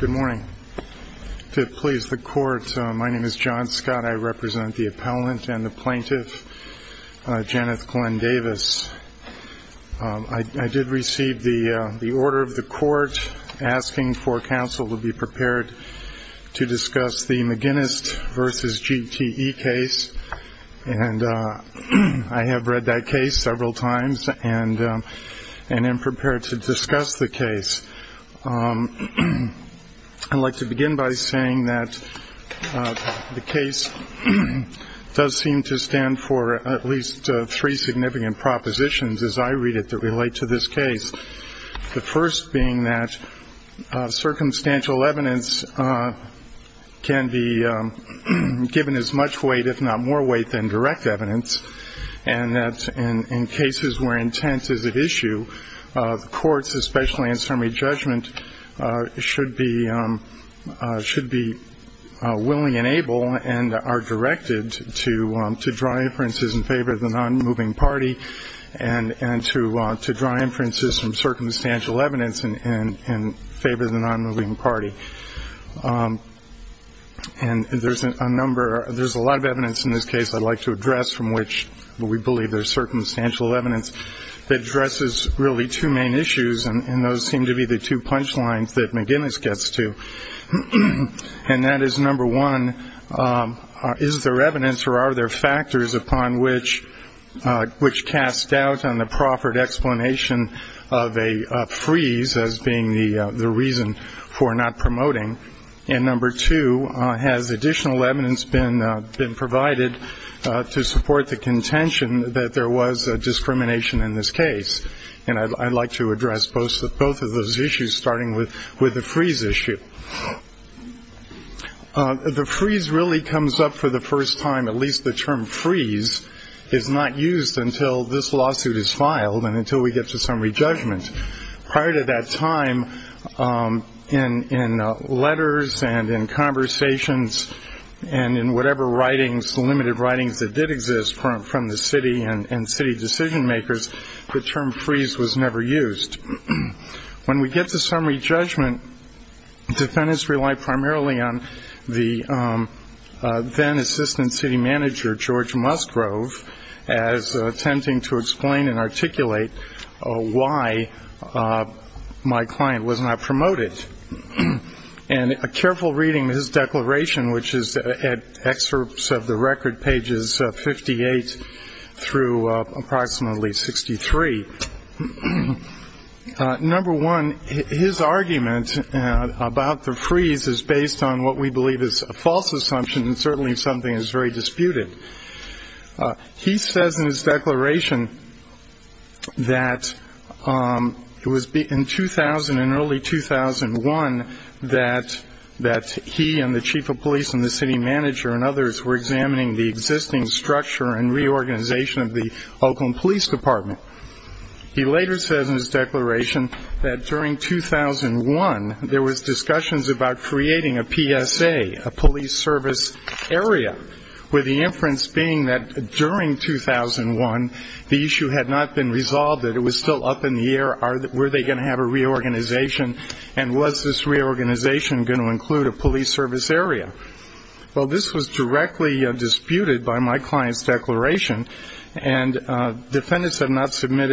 Good morning. To please the court, my name is John Scott. I represent the appellant and the plaintiff, Janeth Glenn-Davis. I did receive the order of the court asking for counsel to be prepared to discuss the McGinnis v. GTE case, and I have read that case several times and am prepared to discuss the case. I'd like to begin by saying that the case does seem to stand for at least three significant propositions, as I read it, that relate to this case. The first being that circumstantial evidence can be given as much weight, if not more weight, than direct evidence, and that in cases where intent is at issue, the courts, especially in summary judgment, should be willing and able and are directed to draw inferences in favor of the non-moving party and to draw inferences from circumstantial evidence in favor of the non-moving party. And there's a number, there's a lot of evidence in this case I'd like to address from which we believe there's circumstantial evidence that addresses really two main issues, and those seem to be the two punch lines that McGinnis gets to. And that is, number one, is there evidence or are there factors upon which cast doubt on the proffered explanation of a freeze as being the reason for not promoting? And number two, has additional evidence been provided to support the contention that there was discrimination in this case? And I'd like to address both of those issues, starting with the freeze issue. The freeze really comes up for the first time, at least the term freeze, is not used until this lawsuit is filed and until we get to summary judgment. Prior to that time, in letters and in conversations and in whatever writings, limited writings that did exist from the city and city decision makers, the term freeze was never used. When we get to summary as attempting to explain and articulate why my client was not promoted, and a careful reading of his declaration, which is excerpts of the record, pages 58 through approximately 63. Number one, his argument about the freeze is based on what is very disputed. He says in his declaration that it was in early 2001 that he and the chief of police and the city manager and others were examining the existing structure and reorganization of the Oakland Police Department. He later says in his declaration that during 2001, there was discussions about creating a PSA, a police service area, with the inference being that during 2001, the issue had not been resolved, that it was still up in the air, were they going to have a reorganization, and was this reorganization going to include a police service area? Well, this was directly disputed by my client's declaration, and defendants have not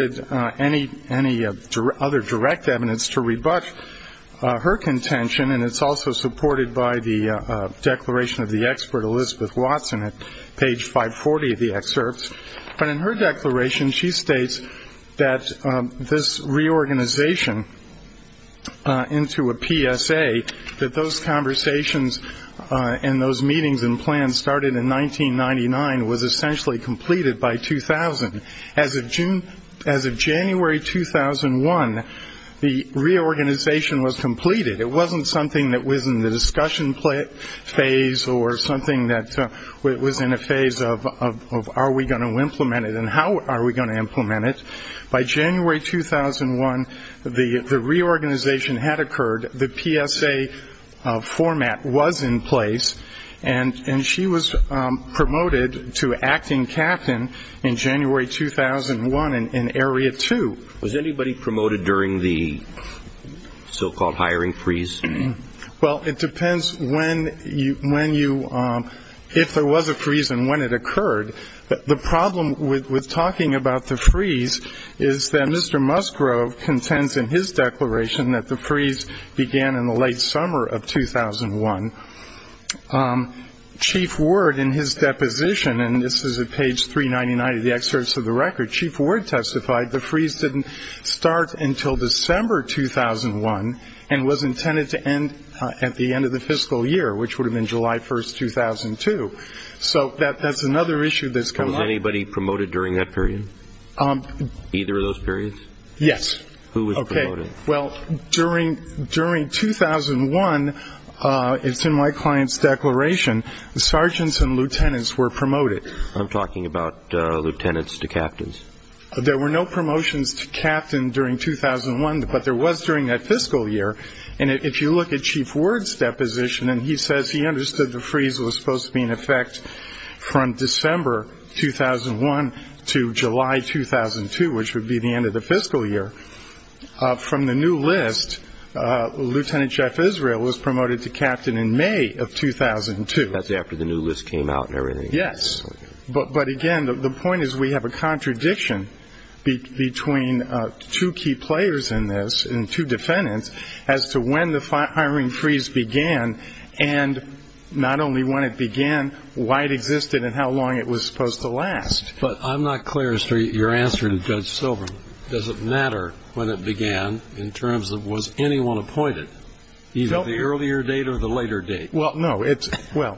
her contention, and it's also supported by the declaration of the expert Elizabeth Watson at page 540 of the excerpts. But in her declaration, she states that this reorganization into a PSA, that those conversations and those meetings and plans started in 1999, was essentially completed by 2000. As of January 2001, the reorganization was completed. It wasn't something that was in the discussion phase or something that was in a phase of are we going to implement it and how are we going to implement it? By January 2001, the reorganization had to act in captain in January 2001 in area 2. Was anybody promoted during the so-called hiring freeze? Well, it depends when you, if there was a freeze and when it occurred. The problem with talking about the freeze is that Mr. Musgrove contends in his declaration that the freeze began in the late summer of 2001. Chief Ward in his deposition, and this is at page 399 of the excerpts of the record, Chief Ward testified the freeze didn't start until December 2001 and was intended to end at the end of the fiscal year, which would have been July 1st, 2002. So that's another issue that's come up. Was anybody promoted during that period? Either of those periods? Yes. Who was promoted? Well, during 2001, it's in my client's declaration, the sergeants and lieutenants were promoted. I'm talking about lieutenants to captains. There were no promotions to captain during 2001, but there was during that fiscal year. And if you look at Chief Ward's deposition and he says he understood the freeze was supposed to be in effect from December 2001 to July 2002, which would be the end of the fiscal year, from the new list, Lieutenant Jeff Israel was promoted to captain in May of 2002. That's after the new list came out and everything? Yes. But again, the point is we have a contradiction between two key players in this and two defendants as to when the firing freeze began and not only when it began, why it began. I'm not clear as to your answer to Judge Silverman. Does it matter when it began in terms of was anyone appointed, either the earlier date or the later date? Well, no.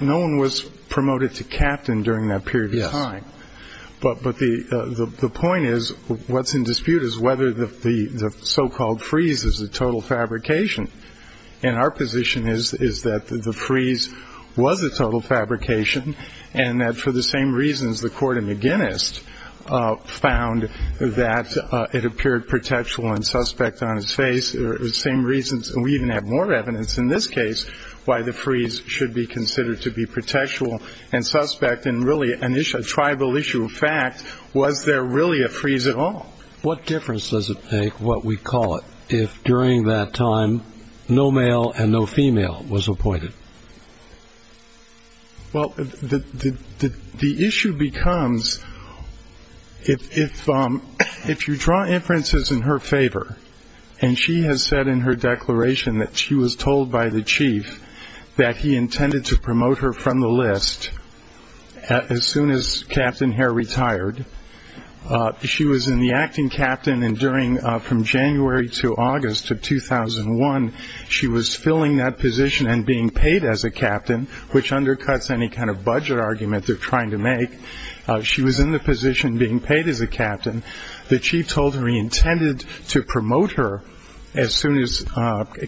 No one was promoted to captain during that period of time. But the point is what's in dispute is whether the so-called freeze is a total fabrication. And our position is that the freeze was a total fabrication and that the same reasons the Court of McGuinness found that it appeared protectual and suspect on its face, the same reasons we even have more evidence in this case why the freeze should be considered to be protectual and suspect and really a tribal issue of fact, was there really a freeze at all? What difference does it make, what we call it, if during that time no male and no female was appointed? Well, the issue becomes if you draw inferences in her favor and she has said in her declaration that she was told by the chief that he intended to promote her from the list as soon as Captain Hare retired, she was in the acting captain and during from January to August of 2001, she was filling that position and being paid as a captain, which undercuts any kind of budget argument they're trying to make. She was in the position being paid as a captain. The chief told her he intended to promote her as soon as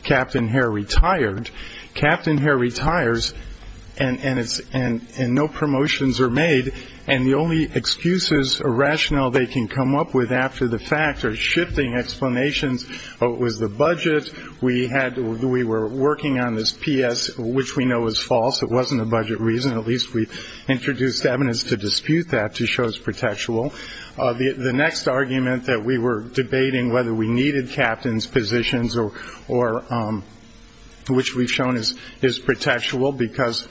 Captain Hare retired. Captain Hare retires and no promotions are made and the only excuses or rationale they can come up with after the fact are shifting explanations. It was the budget, we were working on this PS, which we know is false, it wasn't a budget reason, at least we introduced evidence to dispute that to show it's protectual. The next argument that we were debating whether we needed captains positions or which we've shown is protectual because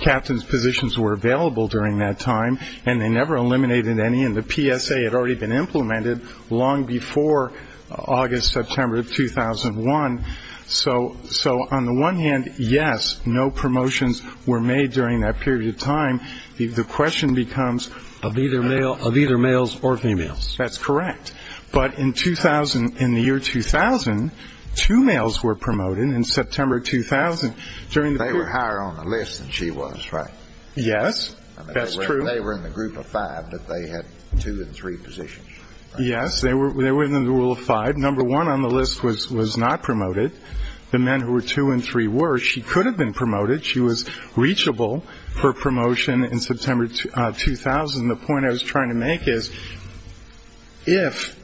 captains positions were available during that time and they never eliminated any and the PSA had already been implemented long before August, September of 2001. So on the one hand, yes, no promotions were made during that period of time. The question becomes of either males or females. That's correct, but in the year 2000, two males were promoted in September 2000. They were higher on the list than she was, right? Yes, that's true. They were in the group of five but they had two and three positions. Yes, they were within the rule of five. Number one on the list was not promoted. The men who were two and three were. She could have been promoted. She was reachable for promotion in September 2000. The point I was trying to make is if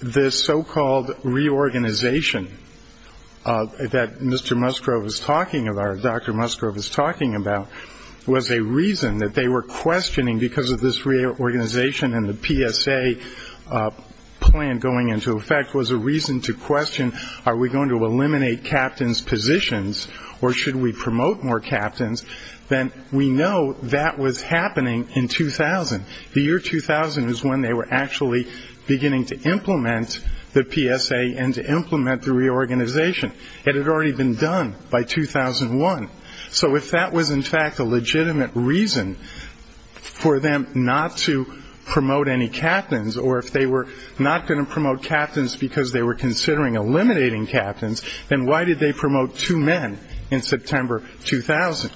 this so-called reorganization that Mr. Musgrove was talking about, Dr. Musgrove was talking about, was a reason that they were questioning because of this reorganization and the PSA plan going into effect was a reason to question are we going to eliminate captains positions or should we promote more captains, then we know that was happening in 2000. The year 2000 is when they were actually beginning to implement the PSA and to implement the reorganization. It had already been done by 2001. So if that was in fact a legitimate reason for them not to promote any captains or if they were not going to promote captains because they were considering eliminating captains, then why did they promote two men in September 2000?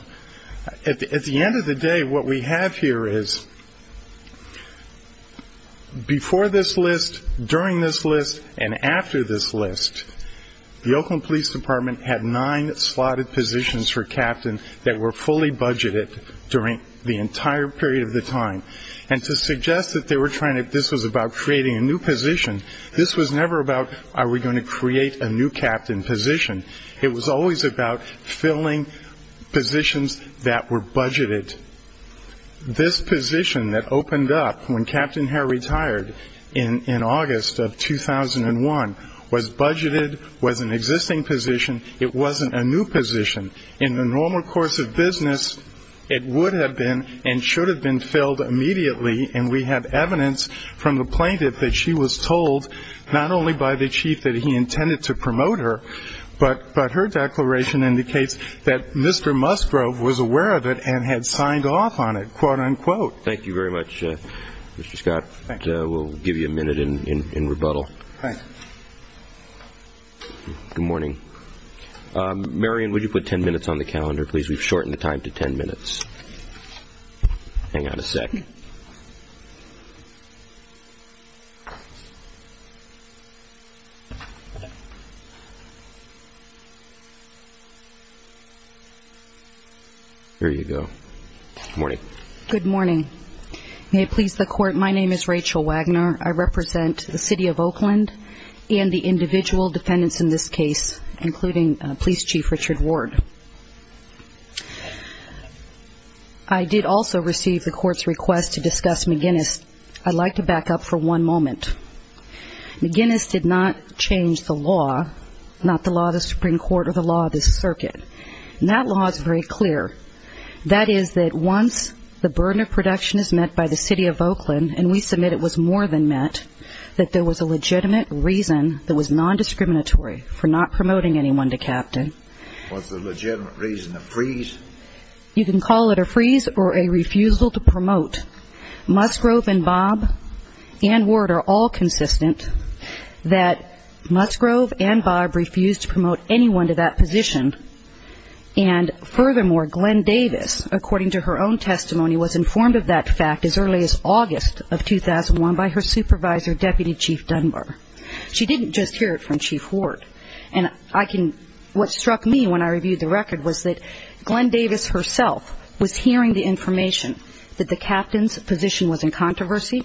At the end of the day, what we have here is before this list, during this list, and after this list, the Oakland Police Department had nine slotted positions for captains that were fully budgeted during the entire period of the time. And to suggest that they were trying to, this was about creating a new position, this was never about are we going to create a new captain position. It was always about filling positions that were budgeted. This position that opened up when Captain Hare retired in August of 2001 was budgeted, was an existing position. It wasn't a new position. In the normal course of business, it would have been and should have been filled immediately. And we have evidence from the plaintiff that she was told not only by the chief that he intended to promote her, but her declaration indicates that Mr. Musgrove was aware of it and had signed off on it, quote unquote. Thank you very much, Mr. Scott. We'll give you a minute in rebuttal. Good morning. Marion, would you put 10 minutes on the calendar, please? We've shortened the time to 10 minutes. Hang on a sec. Here you go. Good morning. Good morning. May it please the court, my name is Rachel Wagner. I represent the city of Oakland and the individual defendants in this case, including Police Chief Richard Ward. I did also receive the court's request to discuss McGinnis. I'd like to back up for one moment. McGinnis did not change the law, not the law of the Supreme Court or the law of this circuit. And that law is very clear. That is that once the burden of production is met by the city of Oakland, and we submit it was more than met, that there was a What's the legitimate reason? A freeze? You can call it a freeze or a refusal to promote. Musgrove and Bob and Ward are all consistent that Musgrove and Bob refused to promote anyone to that position. And furthermore, Glenn Davis, according to her own testimony, was informed of that fact as early as August of 2001 by her supervisor, Deputy Chief Dunbar. She didn't just hear it from Chief Ward. And what struck me when I reviewed the record was that Glenn Davis herself was hearing the information that the captain's position was in controversy,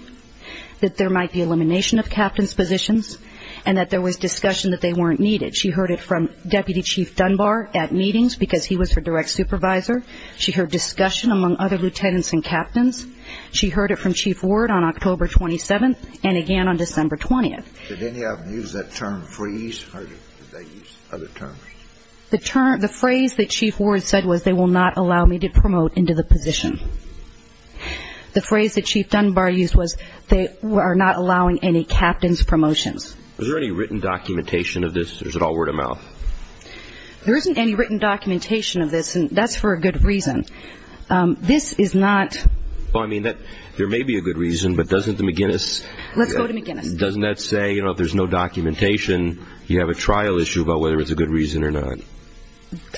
that there might be elimination of captain's positions, and that there was discussion that they weren't needed. She heard it from Deputy Chief Dunbar at meetings because he was her direct supervisor. She heard discussion among other lieutenants and captains. She heard it from Chief Ward on October 27th and again on October 28th. The phrase that Chief Ward said was, they will not allow me to promote into the position. The phrase that Chief Dunbar used was, they are not allowing any captains' promotions. Is there any written documentation of this? Or is it all word of mouth? There isn't any written documentation of this, and that's for a good reason. This is not... Well, I mean, there may be a good reason, but doesn't the McGuinness... Let's go to McGuinness. Doesn't that say, you know, if there's no documentation, you have a trial issue about whether it's a good reason or not?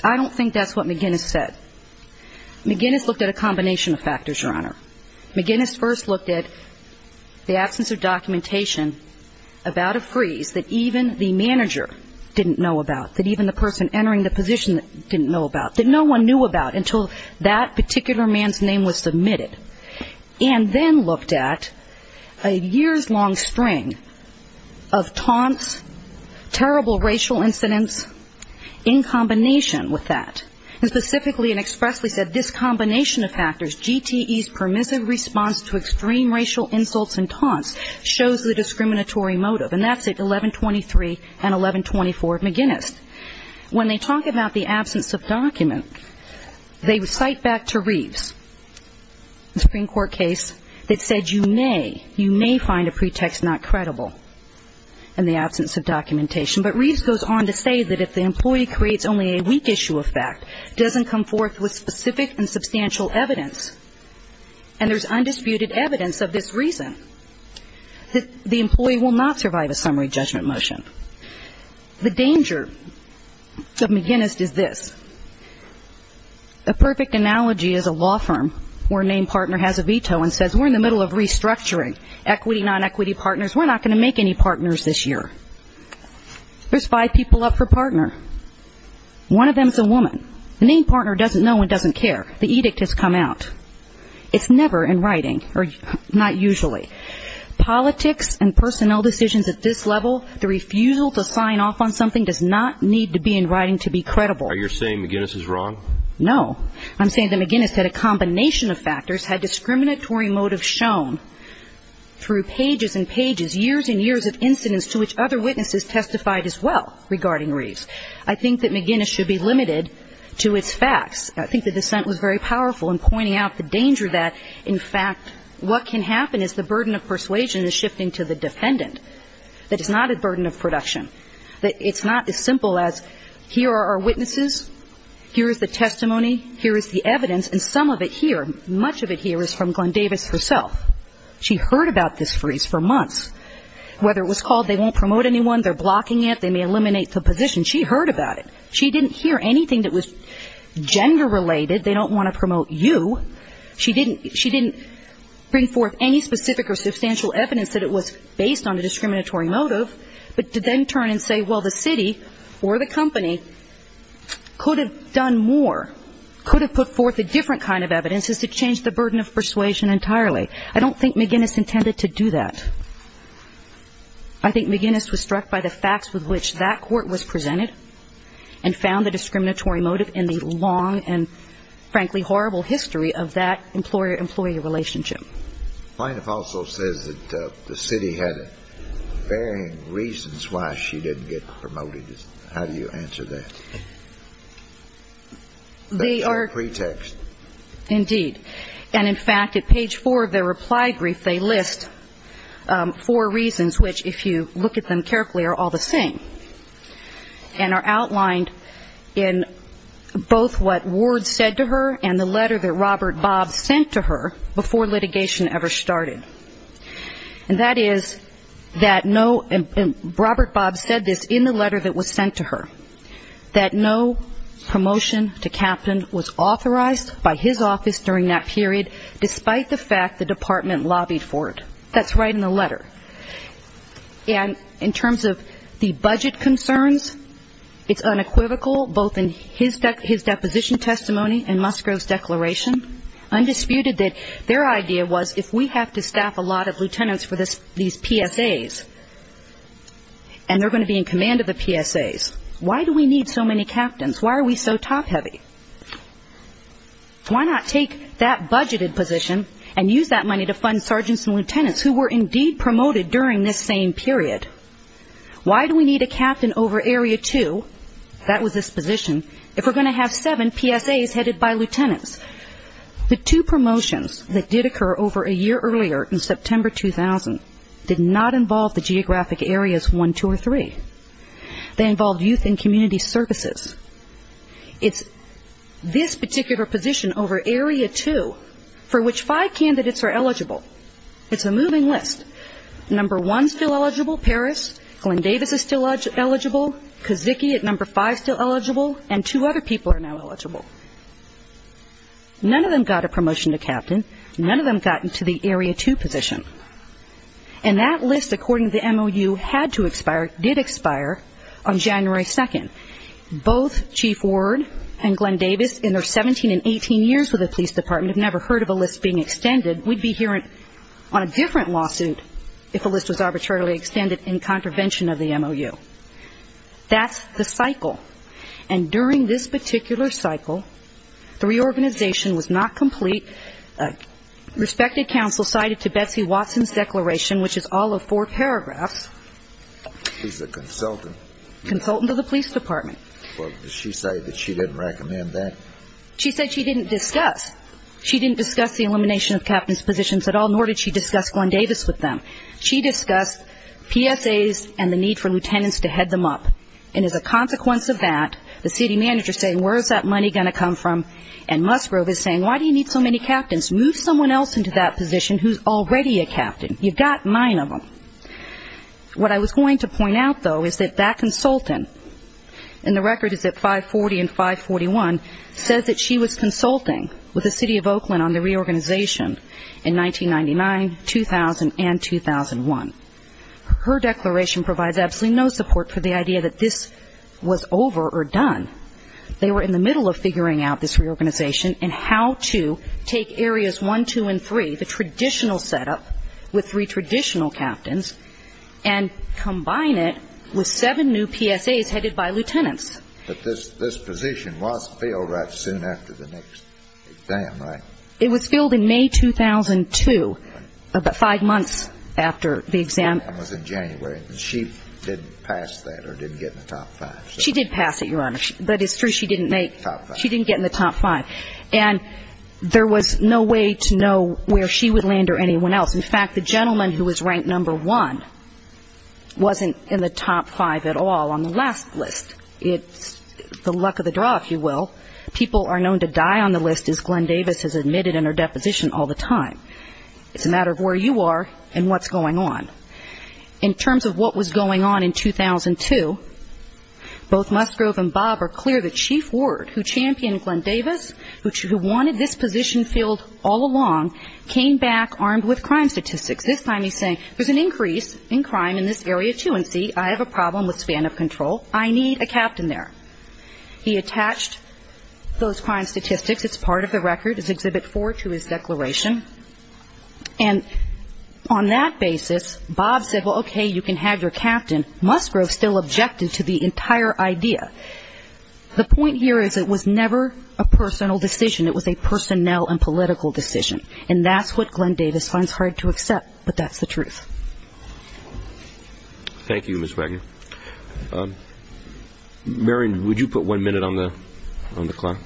I don't think that's what McGuinness said. McGuinness looked at a combination of factors, Your Honor. McGuinness first looked at the absence of documentation about a freeze that even the manager didn't know about, that even the person entering the position didn't know about, that no one knew about until that particular man's name was submitted, and then looked at a years-long string of taunts, terrible racial incidents, in combination with that, and specifically and expressly said, this combination of factors, GTE's permissive response to extreme racial insults and taunts, shows the discriminatory motive. And that's at 1123 and 1124 McGuinness. When they talk about the absence of document, they cite back to Reeves, a Supreme Court case that said you may, you may find a pretext not credible in the absence of documentation. But Reeves goes on to say that if the employee creates only a weak issue of fact, doesn't come forth with specific and substantial evidence, and there's undisputed evidence of this reason, that the employee will not survive a summary judgment motion. The danger of McGuinness is this. A perfect analogy is a law firm where a named partner has a veto and says we're in the middle of restructuring equity, non-equity partners, we're not going to make any partners this year. There's five people up for partner. One of them is a woman. The named partner doesn't know and doesn't care. The edict has come out. It's never in writing, or not usually. Politics and personnel decisions at this level, the refusal to sign off on something does not need to be in writing to be credible. Are you saying McGuinness is wrong? No. I'm saying that McGuinness had a combination of factors, had discriminatory motives shown through pages and pages, years and years of incidents to which other witnesses testified as well regarding Reeves. I think that McGuinness should be limited to its facts. I think the dissent was very powerful in pointing out the danger that, in fact, what can happen is the burden of persuasion is shifting to the defendant. It is not a burden of production. It's not as simple as here are our witnesses, here is the testimony, here is the evidence, and some of it here, much of it here is from Glenn Davis herself. She heard about this freeze for months. Whether it was called they won't promote anyone, they're blocking it, they may eliminate the position, she heard about it. She didn't hear anything that was gender-related, they don't want to promote you. She didn't bring forth any specific or substantial evidence that it was based on a discriminatory motive, but to then turn and say, well, the city or the company could have done more, could have put forth a different kind of evidence is to change the burden of persuasion entirely. I don't think McGuinness intended to do that. I think McGuinness was struck by the facts with which that court was presented and found the discriminatory motive in the long and, frankly, horrible history of that employee-employee relationship. Plaintiff also says that the city had varying reasons why she didn't get promoted. How do you answer that? They are a pretext. Indeed. And, in fact, at page four of their reply brief, they list four reasons which, if you look at them carefully, are all the same and are outlined in both what Ward said to her and the letter that Robert Bob sent to her before litigation ever started. And that is that no, and Robert Bob said this in the letter that was sent to her, that no promotion to captain was authorized by his office during that period, despite the fact the department lobbied for it. That's right in the letter. And in terms of the budget concerns, it's unequivocal, both in his deposition testimony and Musgrove's declaration, undisputed that their idea was if we have to staff a lot of lieutenants for these PSAs, and they're going to be in command of the PSAs, why do we need so many captains? Why are we so top-heavy? Why not take that budgeted position and use that money to fund sergeants and lieutenants who were indeed promoted during this same period? Why do we need a captain over Area 2, that was his position, if we're going to have seven PSAs headed by lieutenants? The two promotions that did occur over a year earlier, in September 2000, did not involve the geographic areas 1, 2, or 3. They involved youth and community services. It's this particular position over Area 2, for which five candidates are still eligible. None of them got a promotion to captain. None of them got into the Area 2 position. And that list, according to the MOU, had to expire, did expire on January 2nd. Both Chief Ward and Glenn Davis, in their 17 and 18 years with the police department, have never heard of a list being extended. We'd be hearing on a different lawsuit if a list was arbitrarily extended in contravention of the MOU. That's the cycle. And during this particular cycle, the reorganization was not complete. Respected counsel cited to Betsy Watson's declaration, which is all of four paragraphs. She's a consultant. Consultant of the police department. Well, did she say that she didn't recommend that? She said she didn't discuss. She didn't discuss the elimination of captain's positions at all, nor did she discuss Glenn Davis with them. She discussed PSAs and the need for lieutenants to head them up. And as a consequence of that, the city manager is saying, where is that money going to come from? And Musgrove is saying, why do you need so many captains? Move someone else into that position who's already a captain. You've got nine of them. What I was going to point out, though, is that that consultant, and the record is at 540 and 541, says that she was consulting with the city of Oakland on the reorganization in 1999, 2000, and 2001. Her declaration provides absolutely no support for the idea that this was over or done. They were in the middle of figuring out this reorganization and how to take areas one, two, and three, the traditional setup with three traditional captains, and combine it with seven new PSAs headed by lieutenants. But this position was filled right soon after the next exam, right? It was filled in May 2002, about five months after the exam. The exam was in January. And she didn't pass that or didn't get in the top five? She did pass it, Your Honor. But it's true, she didn't make top five. She didn't get in the top five. And there was no way to know where she would land or anyone else. In fact, the gentleman who the luck of the draw, if you will, people are known to die on the list, as Glenn Davis has admitted in her deposition all the time. It's a matter of where you are and what's going on. In terms of what was going on in 2002, both Musgrove and Bob are clear that Chief Ward, who championed Glenn Davis, who wanted this position filled all along, came back armed with crime statistics. This time he's saying, there's an increase in crime in this area, too, I have a problem with span of control, I need a captain there. He attached those crime statistics, it's part of the record, it's Exhibit 4 to his declaration. And on that basis, Bob said, well, okay, you can have your captain. Musgrove still objected to the entire idea. The point here is it was never a personal decision, it was a personnel and political decision. And that's what Glenn Davis finds hard to accept. But that's the truth. Thank you, Ms. Wagner. Marion, would you put one minute on the clock?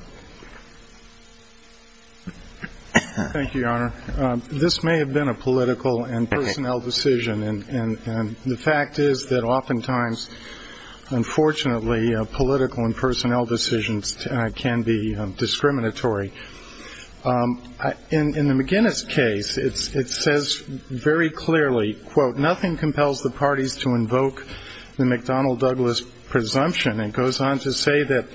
Thank you, Your Honor. This may have been a political and personnel decision, and the fact is that oftentimes, unfortunately, political and personnel decisions can be discriminatory. In the McGinnis case, it says very clearly, quote, nothing compels the parties to invoke the McDonnell-Douglas presumption. It goes on to say that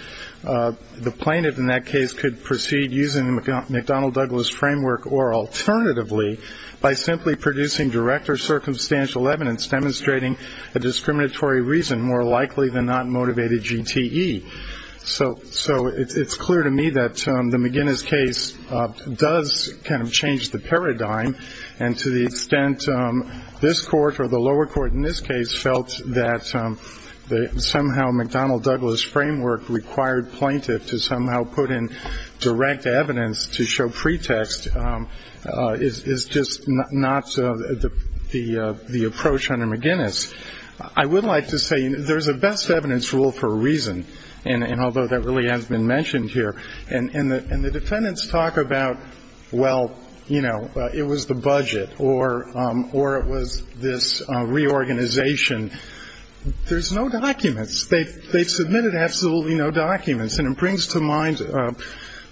the plaintiff, in that case, could proceed using the McDonnell-Douglas framework or alternatively, by simply producing direct or circumstantial evidence demonstrating a discriminatory reason more likely than not does kind of change the paradigm. And to the extent this court or the lower court in this case felt that somehow McDonnell-Douglas framework required plaintiff to somehow put in direct evidence to show pretext is just not the approach under McGinnis. I would like to say there's a best evidence rule for a reason, and although that really has been mentioned here, and the defendants talk about, well, you know, it was the budget or it was this reorganization, there's no documents. They've submitted absolutely no documents, and it brings to mind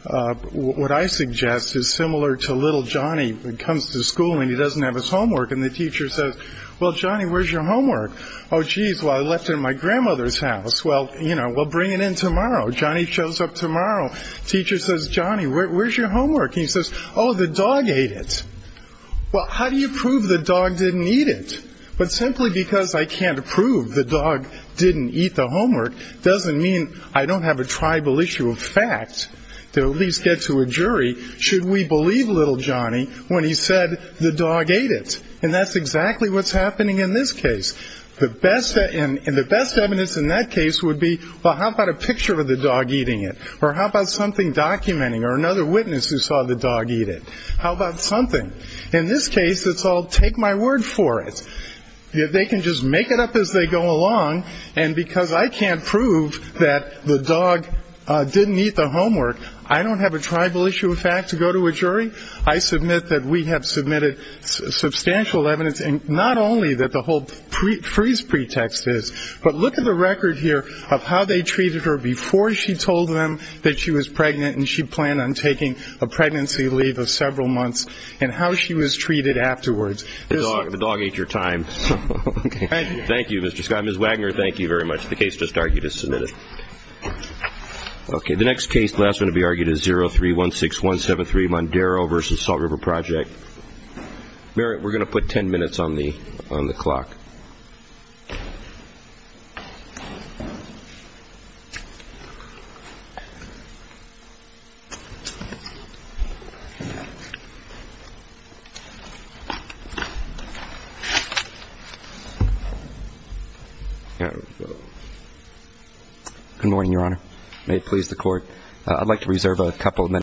what I suggest is similar to little Johnny who comes to school and he doesn't have his homework, and the teacher says, well, Johnny, where's your homework? Oh, jeez, well, I left it at my grandmother's house. Well, you know, bring it in tomorrow. Johnny shows up tomorrow. Teacher says, Johnny, where's your homework? And he says, oh, the dog ate it. Well, how do you prove the dog didn't eat it? But simply because I can't prove the dog didn't eat the homework doesn't mean I don't have a tribal issue of fact to at least get to a jury, should we believe little Johnny when he said the dog ate it? And that's exactly what's happening in this case. And the best evidence in that case would be, well, how about a picture of the dog eating it? Or how about something documenting or another witness who saw the dog eat it? How about something? In this case, it's all take my word for it. They can just make it up as they go along, and because I can't prove that the dog didn't eat the homework, I don't have a tribal issue of fact to go to a jury. I submit that we have submitted substantial evidence, and not only that the tribal freeze pretext is, but look at the record here of how they treated her before she told them that she was pregnant and she planned on taking a pregnancy leave of several months and how she was treated afterwards. The dog ate your time. Thank you, Mr. Scott. Ms. Wagner, thank you very much. The case just argued is submitted. The next case, the last one to be argued is 0316173, Mondaro v. Salt River Project. Merritt, we're going to put ten minutes on the clock. Good morning, Your Honor. May it please the Court. I'd like to reserve a couple of minutes